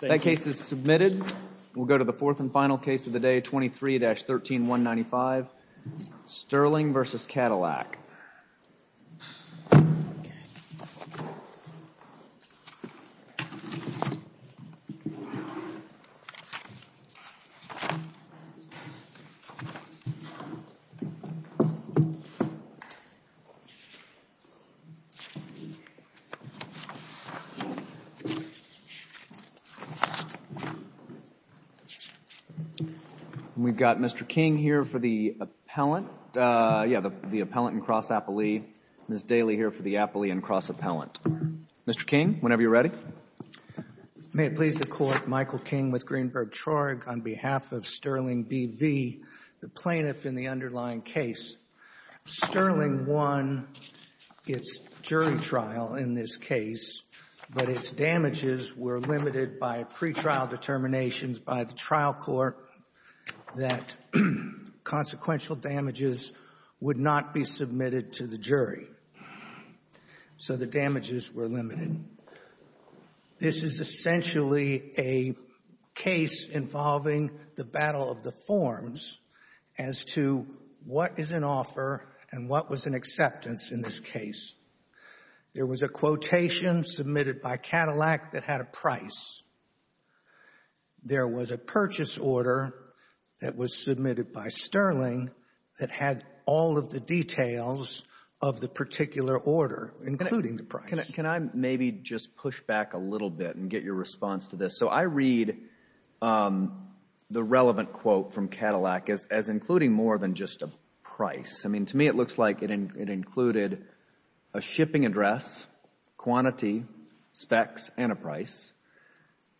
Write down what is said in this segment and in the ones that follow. That case is submitted. We'll go to the fourth and final case of the day, 23-13195, Sterling v. Cadillac. We've got Mr. King here for the appellant. Yeah, the appellant and cross-appellee. Ms. Daly here for the appellee and cross-appellant. Mr. King, whenever you're ready. May it please the Court, Michael King with Greenberg Charg on behalf of Sterling BV, the plaintiff in the underlying case. Sterling won its jury trial in this case, but its damages were limited by pretrial determinations by the trial court that consequential damages would not be submitted to the jury. So the damages were limited. This is essentially a case involving the battle of the forms as to what is an offer and what was an acceptance in this case. There was a quotation submitted by Cadillac that had a price. There was a purchase order that was submitted by Sterling that had all of the details of the particular order, including the price. Mr. King, can I maybe just push back a little bit and get your response to this? So I read the relevant quote from Cadillac as including more than just a price. I mean, to me it looks like it included a shipping address, quantity, specs, and a price.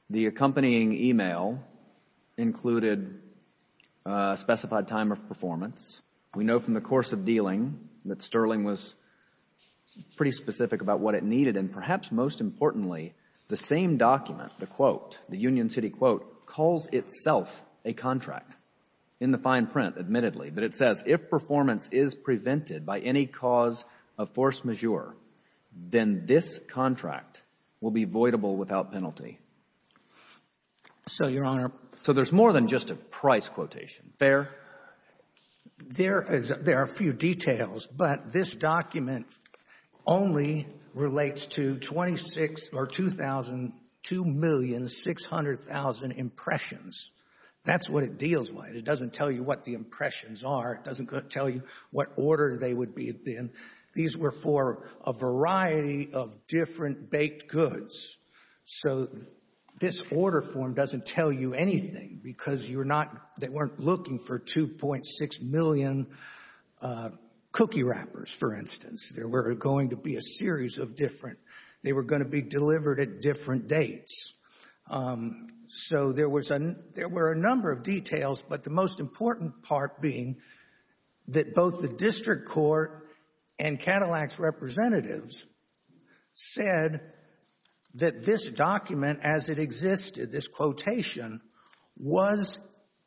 The accompanying email included a specified time of performance. We know from the course of dealing that Sterling was pretty specific about what it needed. And perhaps most importantly, the same document, the quote, the Union City quote, calls itself a contract in the fine print, admittedly. But it says, if performance is prevented by any cause of force majeure, then this contract will be voidable without penalty. So, Your Honor— So there's more than just a price quotation. Fair? There are a few details, but this document only relates to 26 or 2,000—2,600,000 impressions. That's what it deals with. It doesn't tell you what the impressions are. It doesn't tell you what order they would be in. These were for a variety of different baked goods. So this order form doesn't tell you anything because you're not—they weren't looking for 2.6 million cookie wrappers, for instance. There were going to be a series of different—they were going to be delivered at different dates. So there were a number of details, but the most important part being that both the district court and Cadillac's representatives said that this document as it existed, this quotation, was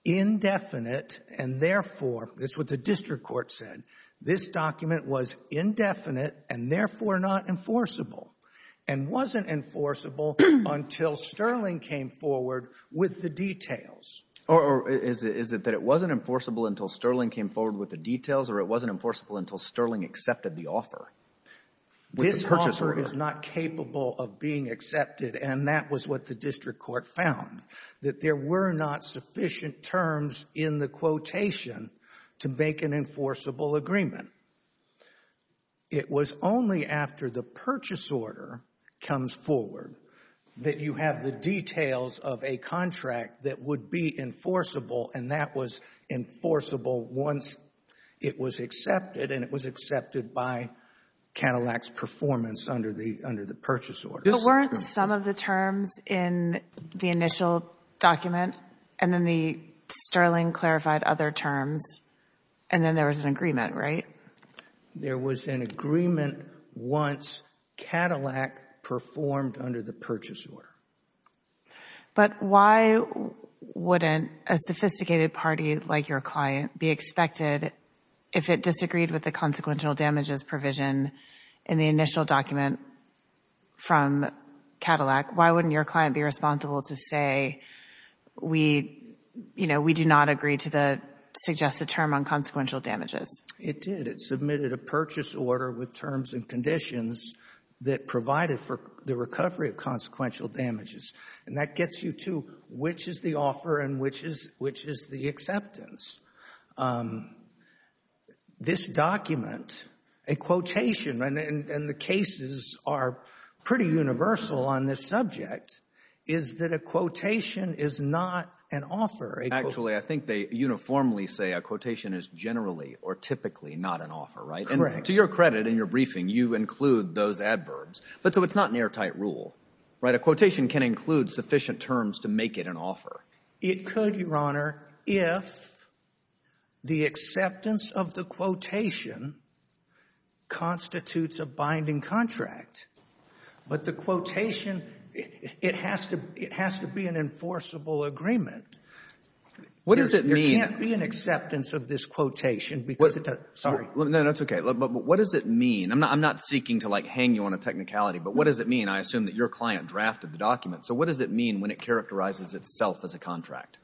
indefinite, and therefore—that's what the district court said— this document was indefinite and therefore not enforceable, and wasn't enforceable until Sterling came forward with the details. Or is it that it wasn't enforceable until Sterling came forward with the details, or it wasn't enforceable until Sterling accepted the offer? This offer is not capable of being accepted, and that was what the district court found, that there were not sufficient terms in the quotation to make an enforceable agreement. It was only after the purchase order comes forward that you have the details of a contract that would be enforceable, and that was enforceable once it was accepted, and it was accepted by Cadillac's performance under the purchase order. But weren't some of the terms in the initial document, and then Sterling clarified other terms, and then there was an agreement, right? There was an agreement once Cadillac performed under the purchase order. But why wouldn't a sophisticated party like your client be expected, if it disagreed with the consequential damages provision in the initial document from Cadillac, why wouldn't your client be responsible to say, you know, we do not agree to the suggested term on consequential damages? It did. It submitted a purchase order with terms and conditions that provided for the recovery of consequential damages, and that gets you to which is the offer and which is the acceptance. This document, a quotation, and the cases are pretty universal on this subject, is that a quotation is not an offer. Actually, I think they uniformly say a quotation is generally or typically not an offer, right? Correct. And to your credit in your briefing, you include those adverbs, but so it's not an airtight rule, right? A quotation can include sufficient terms to make it an offer. It could, Your Honor, if the acceptance of the quotation constitutes a binding contract. But the quotation, it has to be an enforceable agreement. What does it mean? There can't be an acceptance of this quotation. Sorry. No, that's okay. But what does it mean? I'm not seeking to, like, hang you on a technicality, but what does it mean? I assume that your client drafted the document. So what does it mean when it characterizes itself as a contract?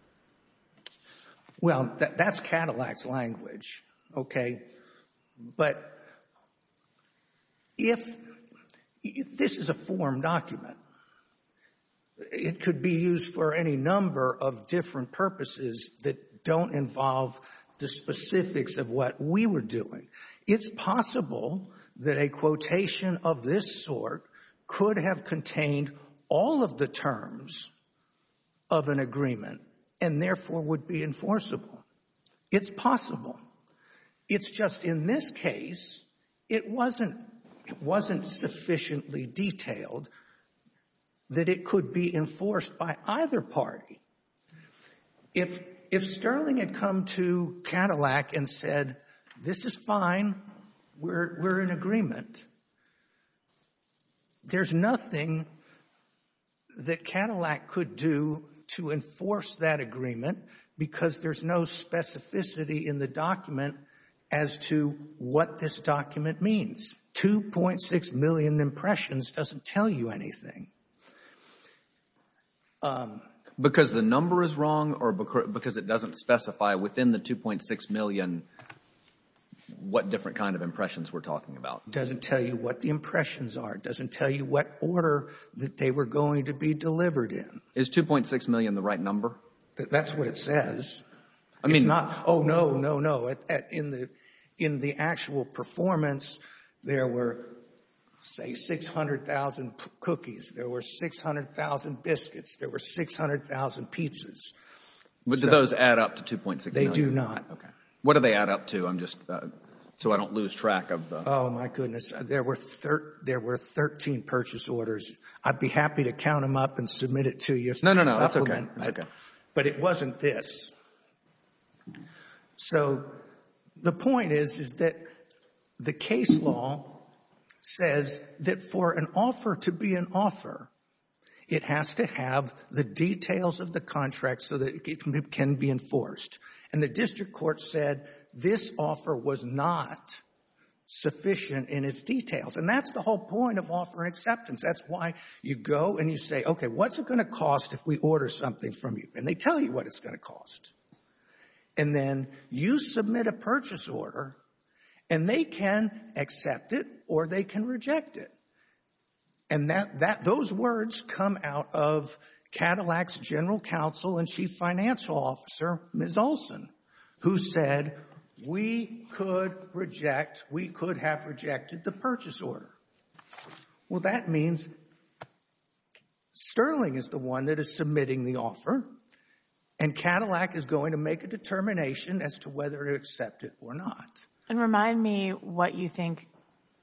Well, that's Cadillac's language, okay? But if this is a form document, it could be used for any number of different purposes that don't involve the specifics of what we were doing. It's possible that a quotation of this sort could have contained all of the terms of an agreement and therefore would be enforceable. It's possible. It's just in this case, it wasn't sufficiently detailed that it could be enforced by either party. If Sterling had come to Cadillac and said, this is fine, we're in agreement, there's nothing that Cadillac could do to enforce that agreement because there's no specificity in the document as to what this document means. 2.6 million impressions doesn't tell you anything. Because the number is wrong or because it doesn't specify within the 2.6 million what different kind of impressions we're talking about? It doesn't tell you what the impressions are. It doesn't tell you what order that they were going to be delivered in. Is 2.6 million the right number? That's what it says. It's not, oh, no, no, no. In the actual performance, there were, say, 600,000 cookies. There were 600,000 biscuits. There were 600,000 pizzas. But do those add up to 2.6 million? They do not. Okay. What do they add up to? I'm just, so I don't lose track of. Oh, my goodness. There were 13 purchase orders. I'd be happy to count them up and submit it to you. No, no, no. That's okay. But it wasn't this. So the point is, is that the case law says that for an offer to be an offer, it has to have the details of the contract so that it can be enforced. And the district court said this offer was not sufficient in its details. And that's the whole point of offer and acceptance. That's why you go and you say, okay, what's it going to cost if we order something from you? And they tell you what it's going to cost. And then you submit a purchase order, and they can accept it or they can reject it. And those words come out of Cadillac's general counsel and chief financial officer, Ms. Olsen, who said, we could reject, we could have rejected the purchase order. Well, that means Sterling is the one that is submitting the offer, and Cadillac is going to make a determination as to whether to accept it or not. And remind me what you think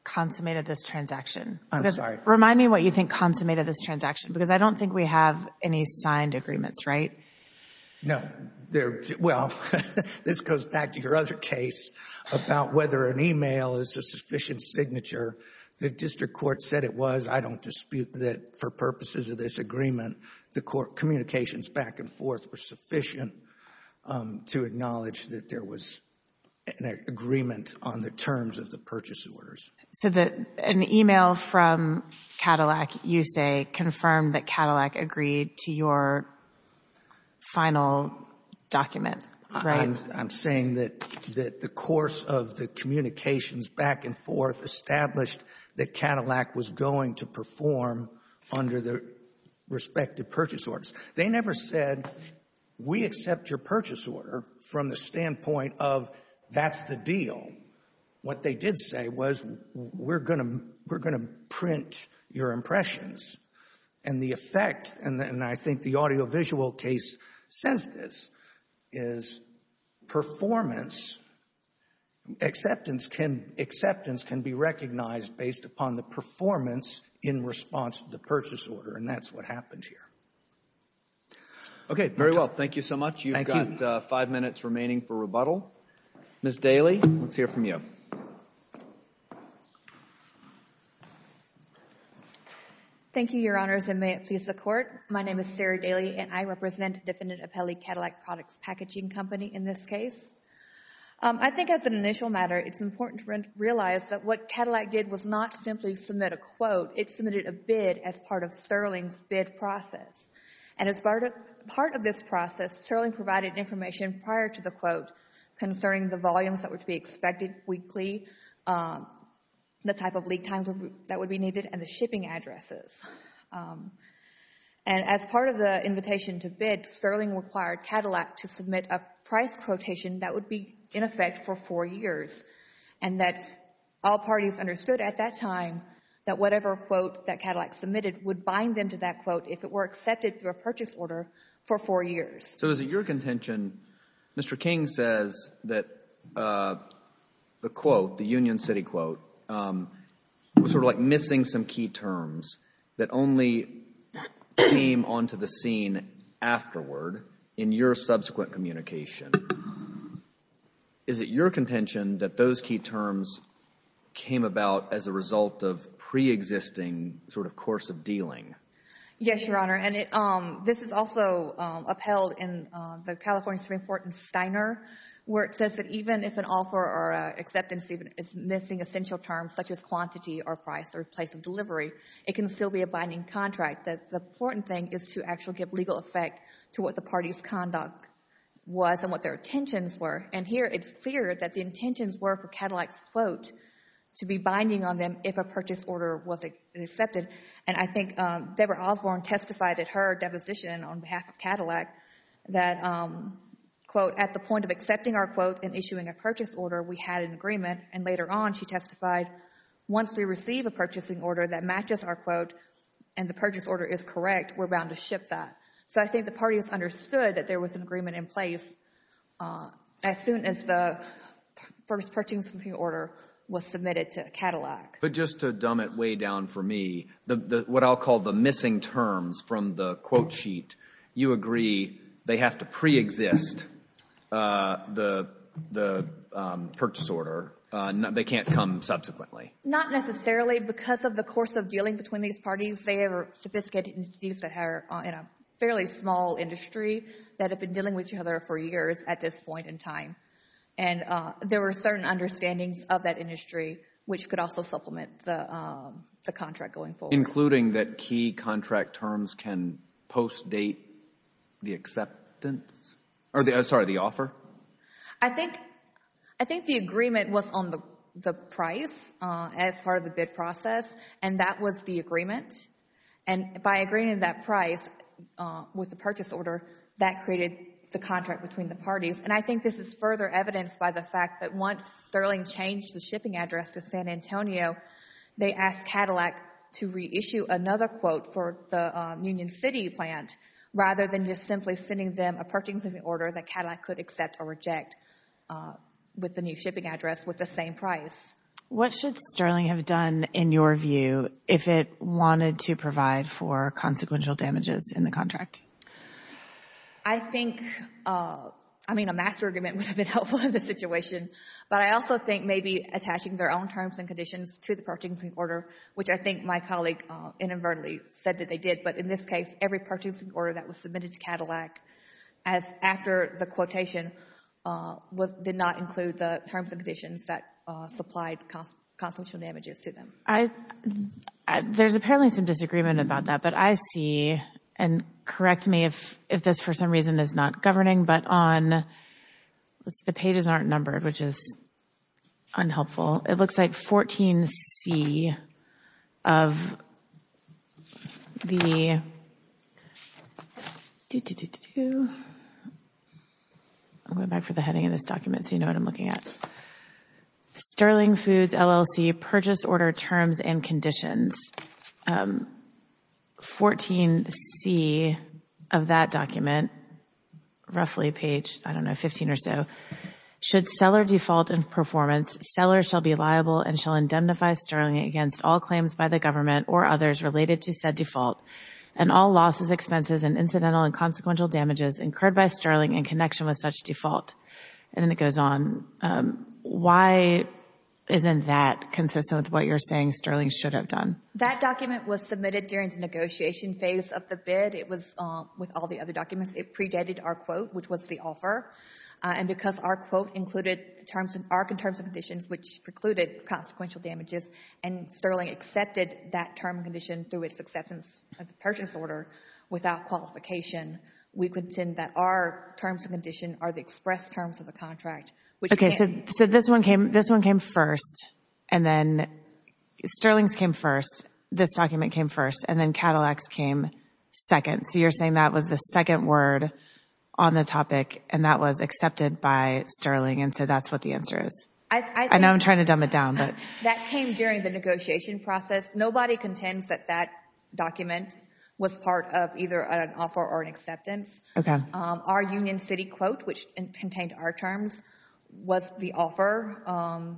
consummated this transaction. I'm sorry. Remind me what you think consummated this transaction, because I don't think we have any signed agreements, right? No. Well, this goes back to your other case about whether an email is a sufficient signature. The district court said it was. I don't dispute that for purposes of this agreement, the court communications back and forth were sufficient to acknowledge that there was an agreement on the terms of the purchase orders. So an email from Cadillac, you say, confirmed that Cadillac agreed to your final document, right? I'm saying that the course of the communications back and forth established that Cadillac was going to perform under the respective purchase orders. They never said, we accept your purchase order, from the standpoint of that's the deal. What they did say was, we're going to print your impressions. And the effect, and I think the audiovisual case says this, is acceptance can be recognized based upon the performance in response to the purchase order, and that's what happened here. Okay, very well. Thank you so much. You've got five minutes remaining for rebuttal. Ms. Daly, let's hear from you. Thank you, Your Honors, and may it please the Court. My name is Sarah Daly, and I represent Defendant Appellee Cadillac Products Packaging Company in this case. I think as an initial matter, it's important to realize that what Cadillac did was not simply submit a quote. It submitted a bid as part of Sterling's bid process. And as part of this process, Sterling provided information prior to the quote concerning the volumes that were to be expected weekly, the type of lead time that would be needed, and the shipping addresses. And as part of the invitation to bid, Sterling required Cadillac to submit a price quotation that would be in effect for four years, and that all parties understood at that time that whatever quote that Cadillac submitted would bind them to that quote if it were accepted through a purchase order for four years. So is it your contention, Mr. King says that the quote, the Union City quote, was sort of like missing some key terms that only came onto the scene afterward in your subsequent communication. Is it your contention that those key terms came about as a result of preexisting sort of course of dealing? Yes, Your Honor. And this is also upheld in the California Supreme Court in Steiner where it says that even if an offer or an acceptance is missing essential terms such as quantity or price or place of delivery, it can still be a binding contract. The important thing is to actually give legal effect to what the party's conduct was and what their intentions were. And here it's clear that the intentions were for Cadillac's quote to be binding on them if a purchase order was accepted. And I think Deborah Osborne testified at her deposition on behalf of Cadillac that quote, at the point of accepting our quote and issuing a purchase order, we had an agreement. And later on she testified once we receive a purchasing order that matches our quote and the purchase order is correct, we're bound to ship that. So I think the parties understood that there was an agreement in place as soon as the first purchasing order was submitted to Cadillac. But just to dumb it way down for me, what I'll call the missing terms from the quote sheet, you agree they have to preexist the purchase order. They can't come subsequently. Not necessarily because of the course of dealing between these parties. They are sophisticated entities that are in a fairly small industry that have been dealing with each other for years at this point in time. And there were certain understandings of that industry which could also supplement the contract going forward. Including that key contract terms can post-date the acceptance? Sorry, the offer? I think the agreement was on the price as part of the bid process, and that was the agreement. And by agreeing to that price with the purchase order, that created the contract between the parties. And I think this is further evidenced by the fact that once Sterling changed the shipping address to San Antonio, they asked Cadillac to reissue another quote for the Union City plant rather than just simply sending them a purchasing order that Cadillac could accept or reject with the new shipping address with the same price. What should Sterling have done, in your view, if it wanted to provide for consequential damages in the contract? I think a master agreement would have been helpful in this situation. But I also think maybe attaching their own terms and conditions to the purchasing order, which I think my colleague inadvertently said that they did. But in this case, every purchasing order that was submitted to Cadillac after the quotation did not include the terms and conditions that supplied consequential damages to them. There's apparently some disagreement about that. But I see, and correct me if this for some reason is not governing, but the pages aren't numbered, which is unhelpful. It looks like 14C of the Sterling Foods LLC purchase order terms and conditions. 14C of that document, roughly page, I don't know, 15 or so, should seller default in performance. Sellers shall be liable and shall indemnify Sterling against all claims by the government or others related to said default and all losses, expenses, and incidental and consequential damages incurred by Sterling in connection with such default. And then it goes on. Why isn't that consistent with what you're saying Sterling should have done? That document was submitted during the negotiation phase of the bid. It was with all the other documents. It predated our quote, which was the offer. And because our quote included our terms and conditions, which precluded consequential damages, and Sterling accepted that term and condition through its acceptance of the purchase order without qualification, we contend that our terms and condition are the express terms of the contract, which— Okay, so this one came first, and then Sterling's came first. This document came first, and then Cadillac's came second. So you're saying that was the second word on the topic, and that was accepted by Sterling, and so that's what the answer is. I know I'm trying to dumb it down, but— That came during the negotiation process. Nobody contends that that document was part of either an offer or an acceptance. Okay. Our Union City quote, which contained our terms, was the offer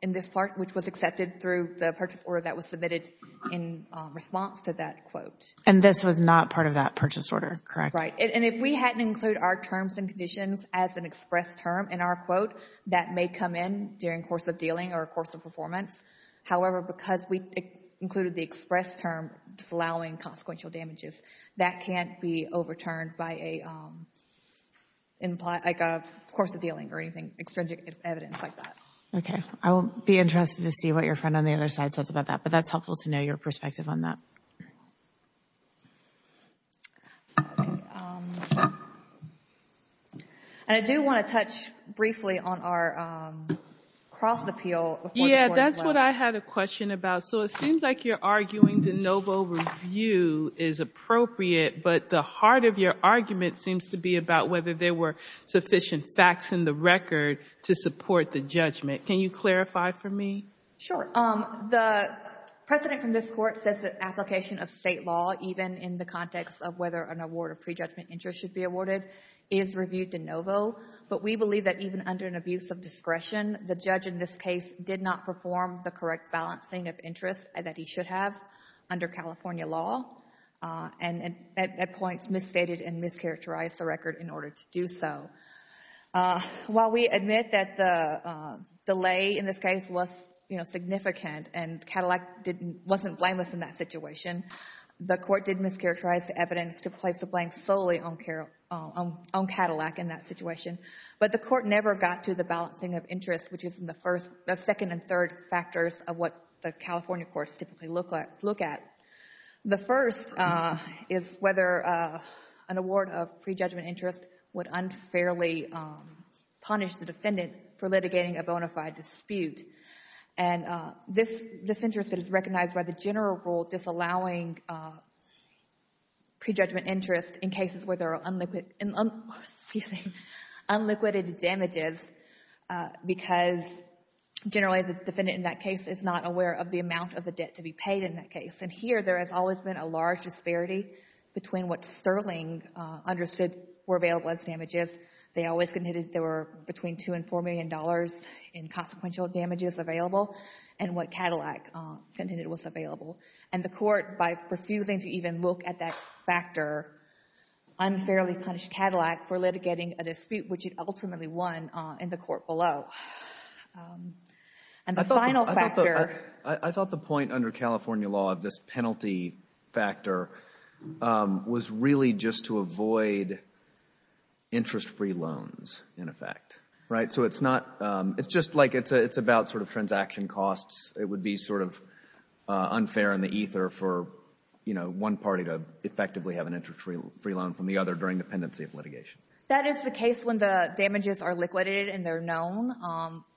in this part, which was accepted through the purchase order that was submitted in response to that quote. And this was not part of that purchase order, correct? Right, and if we hadn't included our terms and conditions as an express term in our quote, that may come in during course of dealing or course of performance. However, because we included the express term allowing consequential damages, that can't be overturned by a course of dealing or anything extrinsic evidence like that. Okay. I'll be interested to see what your friend on the other side says about that, but that's helpful to know your perspective on that. And I do want to touch briefly on our cross appeal. Yeah, that's what I had a question about. So it seems like you're arguing de novo review is appropriate, but the heart of your argument seems to be about whether there were sufficient facts in the record to support the judgment. Can you clarify for me? Sure. The precedent from this court says that application of state law, even in the context of whether an award of prejudgment interest should be awarded, is reviewed de novo. But we believe that even under an abuse of discretion, the judge in this case did not perform the correct balancing of interest that he should have under California law, and at points misstated and mischaracterized the record in order to do so. While we admit that the delay in this case was significant and Cadillac wasn't blameless in that situation, the court did mischaracterize the evidence to place the blame solely on Cadillac in that situation. But the court never got to the balancing of interest, which is the second and third factors of what the California courts typically look at. The first is whether an award of prejudgment interest would unfairly punish the defendant for litigating a bona fide dispute. And this interest is recognized by the general rule disallowing prejudgment interest in cases where there are unliquid damages because generally the defendant in that case is not aware of the amount of the debt to be paid in that case. And here there has always been a large disparity between what Sterling understood were available as damages. They always contended there were between $2 and $4 million in consequential damages available and what Cadillac contended was available. And the court by refusing to even look at that factor unfairly punished Cadillac for litigating a dispute which it ultimately won in the court below. And the final factor. I thought the point under California law of this penalty factor was really just to avoid interest-free loans in effect. Right? So it's not, it's just like it's about sort of transaction costs. It would be sort of unfair in the ether for, you know, one party to effectively have an interest-free loan from the other during the pendency of litigation. That is the case when the damages are liquidated and they're known.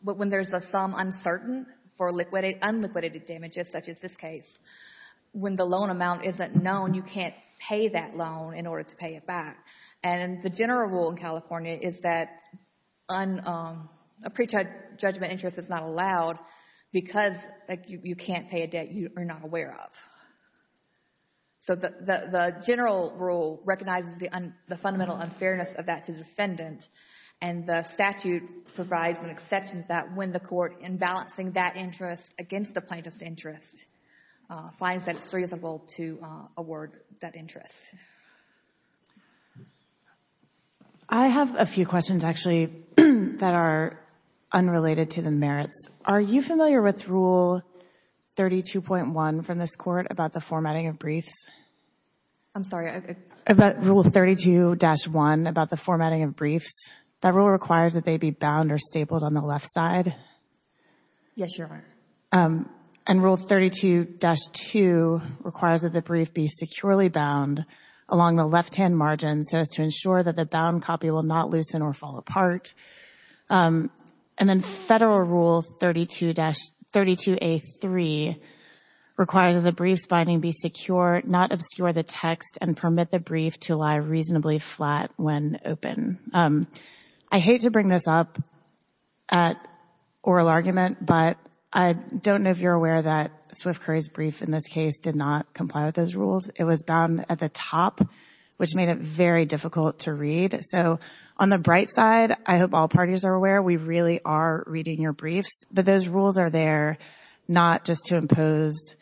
But when there's a sum uncertain for unliquidated damages such as this case, when the loan amount isn't known, you can't pay that loan in order to pay it back. And the general rule in California is that a prejudgment interest is not allowed because you can't pay a debt you are not aware of. So the general rule recognizes the fundamental unfairness of that to the defendant and the statute provides an exception that when the court in balancing that interest against the plaintiff's interest finds that it's reasonable to award that interest. I have a few questions actually that are unrelated to the merits. Are you familiar with Rule 32.1 from this court about the formatting of briefs? I'm sorry. About Rule 32-1 about the formatting of briefs. That rule requires that they be bound or stapled on the left side. Yes, Your Honor. And Rule 32-2 requires that the brief be securely bound along the left-hand margin so as to ensure that the bound copy will not loosen or fall apart. And then Federal Rule 32A.3 requires that the brief's binding be secure, not obscure the text, and permit the brief to lie reasonably flat when open. I hate to bring this up at oral argument but I don't know if you're aware that Swift-Curry's brief in this case did not comply with those rules. It was bound at the top which made it very difficult to read. So on the bright side, I hope all parties are aware we really are reading your briefs but those rules are there not just to impose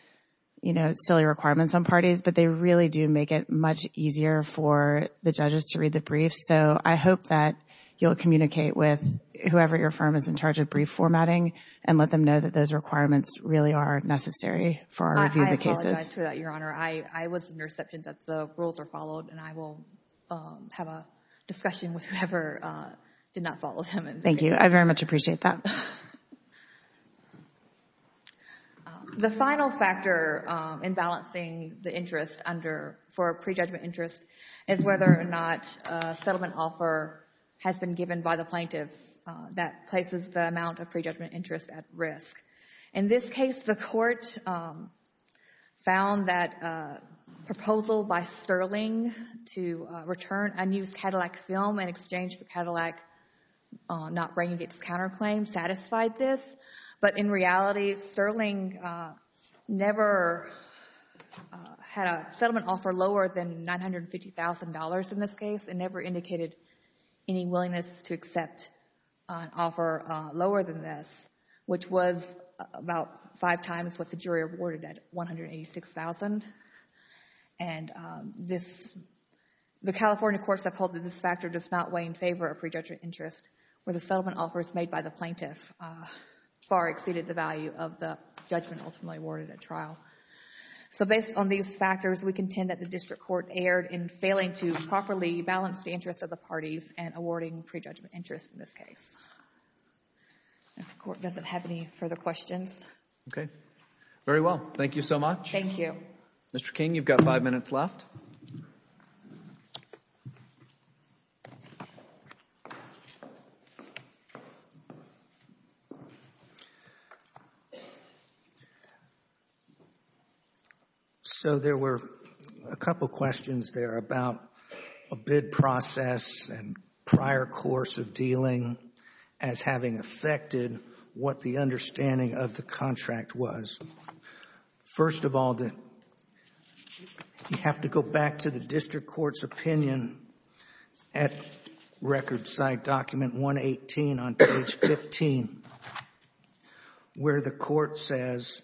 silly requirements on parties but they really do make it much easier for the judges to read the briefs. So I hope that you'll communicate with whoever your firm is in charge of brief formatting and let them know that those requirements really are necessary for our review of the cases. I apologize for that, Your Honor. I was intercepted and the rules were followed and I will have a discussion with whoever did not follow them. Thank you. I very much appreciate that. The final factor in balancing the interest for prejudgment interest is whether or not a settlement offer has been given by the plaintiff that places the amount of prejudgment interest at risk. In this case, the court found that a proposal by Sterling to return unused Cadillac film in exchange for Cadillac not bringing its counterclaim satisfied this. But in reality, Sterling never had a settlement offer lower than $950,000 in this case and never indicated any willingness to accept an offer lower than this which was about five times what the jury awarded at $186,000. And the California courts have held that this factor does not weigh in favor of prejudgment interest where the settlement offer is made by the plaintiff far exceeded the value of the judgment ultimately awarded at trial. So based on these factors, we contend that the district court erred in failing to properly balance the interests of the parties and awarding prejudgment interest in this case. If the court doesn't have any further questions. Okay. Very well. Thank you so much. Thank you. Mr. King, you've got five minutes left. So there were a couple questions there about a bid process and prior course of dealing as having affected what the understanding of the contract was. First of all, you have to go back to the district court's opinion at record site document 118 on page 15 where the court says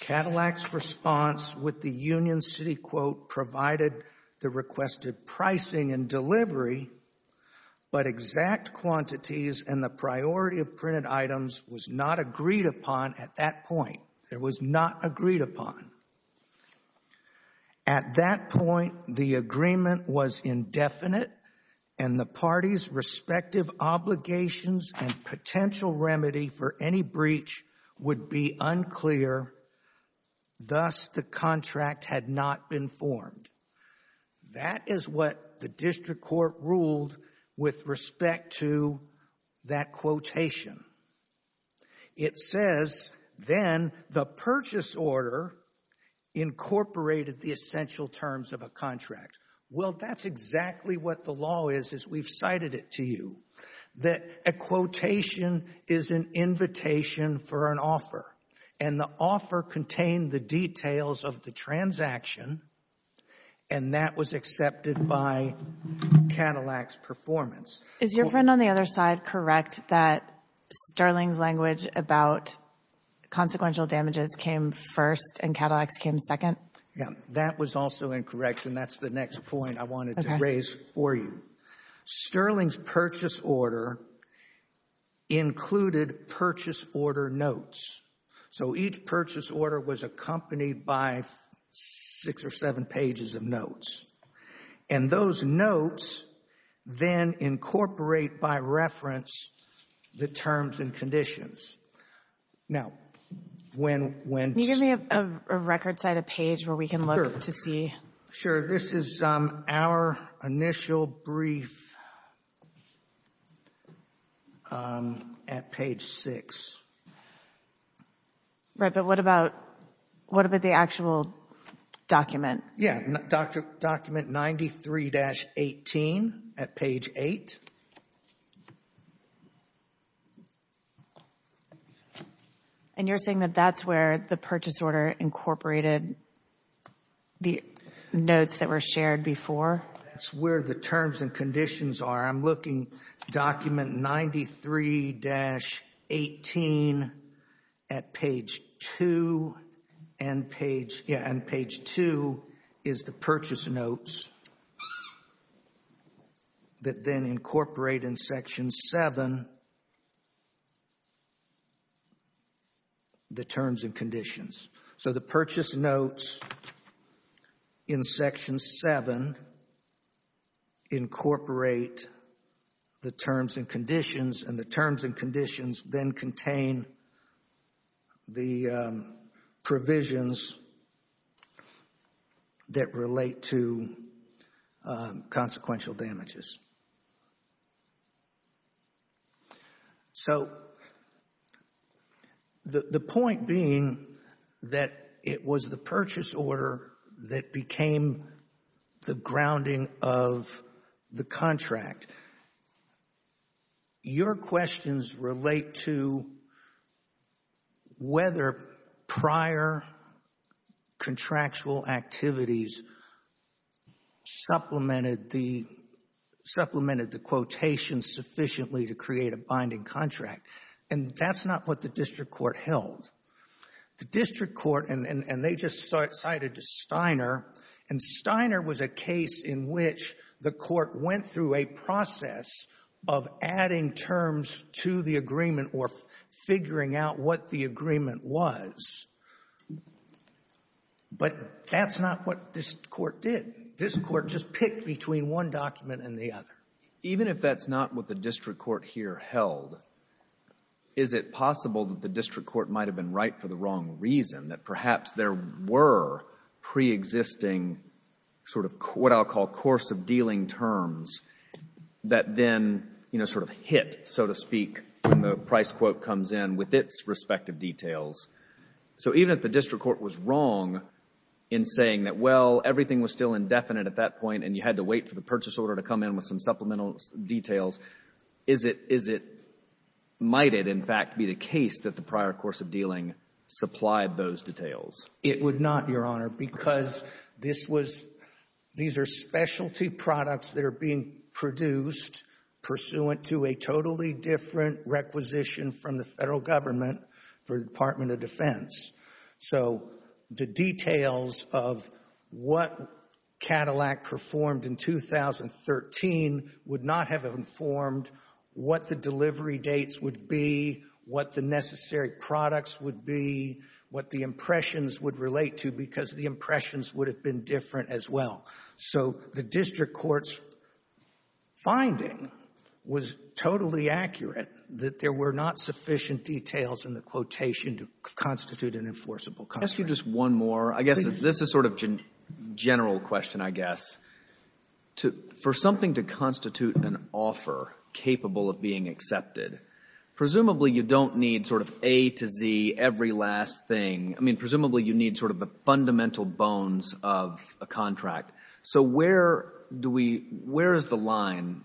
Cadillac's response with the Union City quote provided the requested pricing and delivery but exact quantities and the priority of printed items was not agreed upon at that point. It was not agreed upon. At that point, the agreement was indefinite and the parties' respective obligations and potential remedy for any breach would be unclear. Thus, the contract had not been formed. That is what the district court ruled with respect to that quotation. It says then the purchase order incorporated the essential terms of a contract. Well, that's exactly what the law is as we've cited it to you. That a quotation is an invitation for an offer and the offer contained the details of the transaction and that was accepted by Cadillac's performance. Is your friend on the other side correct that Sterling's language about consequential damages came first and Cadillac's came second? Yeah, that was also incorrect and that's the next point I wanted to raise for you. Sterling's purchase order included purchase order notes. So each purchase order was accompanied by six or seven pages of notes and those notes then incorporate by reference the terms and conditions. Now, when- Can you give me a record side of page where we can look to see? Sure, this is our initial brief at page 6. Right, but what about the actual document? Yeah, document 93-18 at page 8. And you're saying that that's where the purchase order incorporated the notes that were shared before? That's where the terms and conditions are. I'm looking document 93-18 at page 2 and page 2 is the purchase notes that then incorporate in section 7 the terms and conditions. So the purchase notes in section 7 incorporate the terms and conditions and the terms and conditions then contain the provisions that relate to consequential damages. So the point being that it was the purchase order that became the grounding of the contract. Your questions relate to whether prior contractual activities supplemented the quotation sufficiently to create a binding contract. And that's not what the district court held. The district court, and they just cited Steiner, and Steiner was a case in which the court went through a process of adding terms to the agreement or figuring out what the agreement was. But that's not what this court did. This court just picked between one document and the other. Even if that's not what the district court here held, is it possible that the district court might have been right for the wrong reason, that perhaps there were preexisting sort of what I'll call course of dealing terms that then sort of hit, so to speak, when the price quote comes in with its respective details. So even if the district court was wrong in saying that, well, everything was still indefinite at that point and you had to wait for the purchase order to come in with some supplemental details, is it, might it in fact be the case that the prior course of dealing supplied those details? It would not, Your Honor, because this was, these are specialty products that are being produced pursuant to a totally different requisition from the federal government for the Department of Defense. So the details of what Cadillac performed in 2013 would not have informed what the delivery dates would be, what the necessary products would be, what the impressions would relate to because the impressions would have been different as well. So the district court's finding was totally accurate that there were not sufficient details in the quotation to constitute an enforceable contract. Let me ask you just one more. I guess this is sort of general question, I guess. For something to constitute an offer capable of being accepted, presumably you don't need sort of A to Z every last thing. I mean, presumably you need sort of the fundamental bones of a contract. So where do we, where is the line,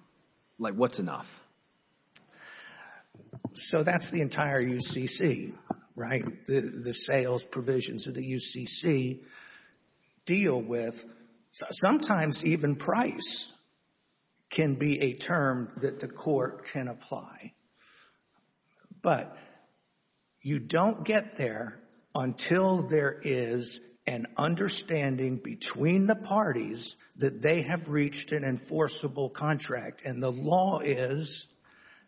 like what's enough? So that's the entire UCC, right? The sales provisions of the UCC deal with, sometimes even price can be a term that the court can apply. But you don't get there until there is an understanding between the parties that they have reached an enforceable contract. And the law is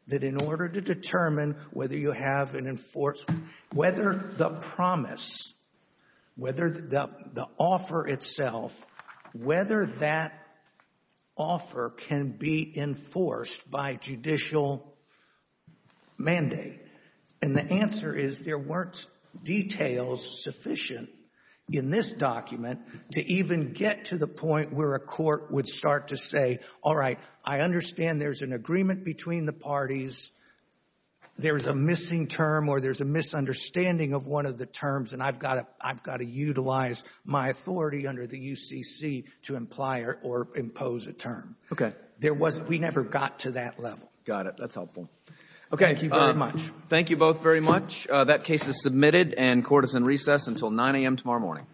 that in order to determine whether you have an enforceable, whether the promise, whether the offer itself, whether that offer can be enforced by judicial mandate. And the answer is there weren't details sufficient in this document to even get to the point where a court would start to say, all right, I understand there's an agreement between the parties. There's a missing term or there's a misunderstanding of one of the terms and I've got to utilize my authority under the UCC to imply or impose a term. Okay. There wasn't, we never got to that level. Got it. That's helpful. Okay. Thank you very much. Thank you both very much. That case is submitted and court is in recess until 9 a.m. tomorrow morning.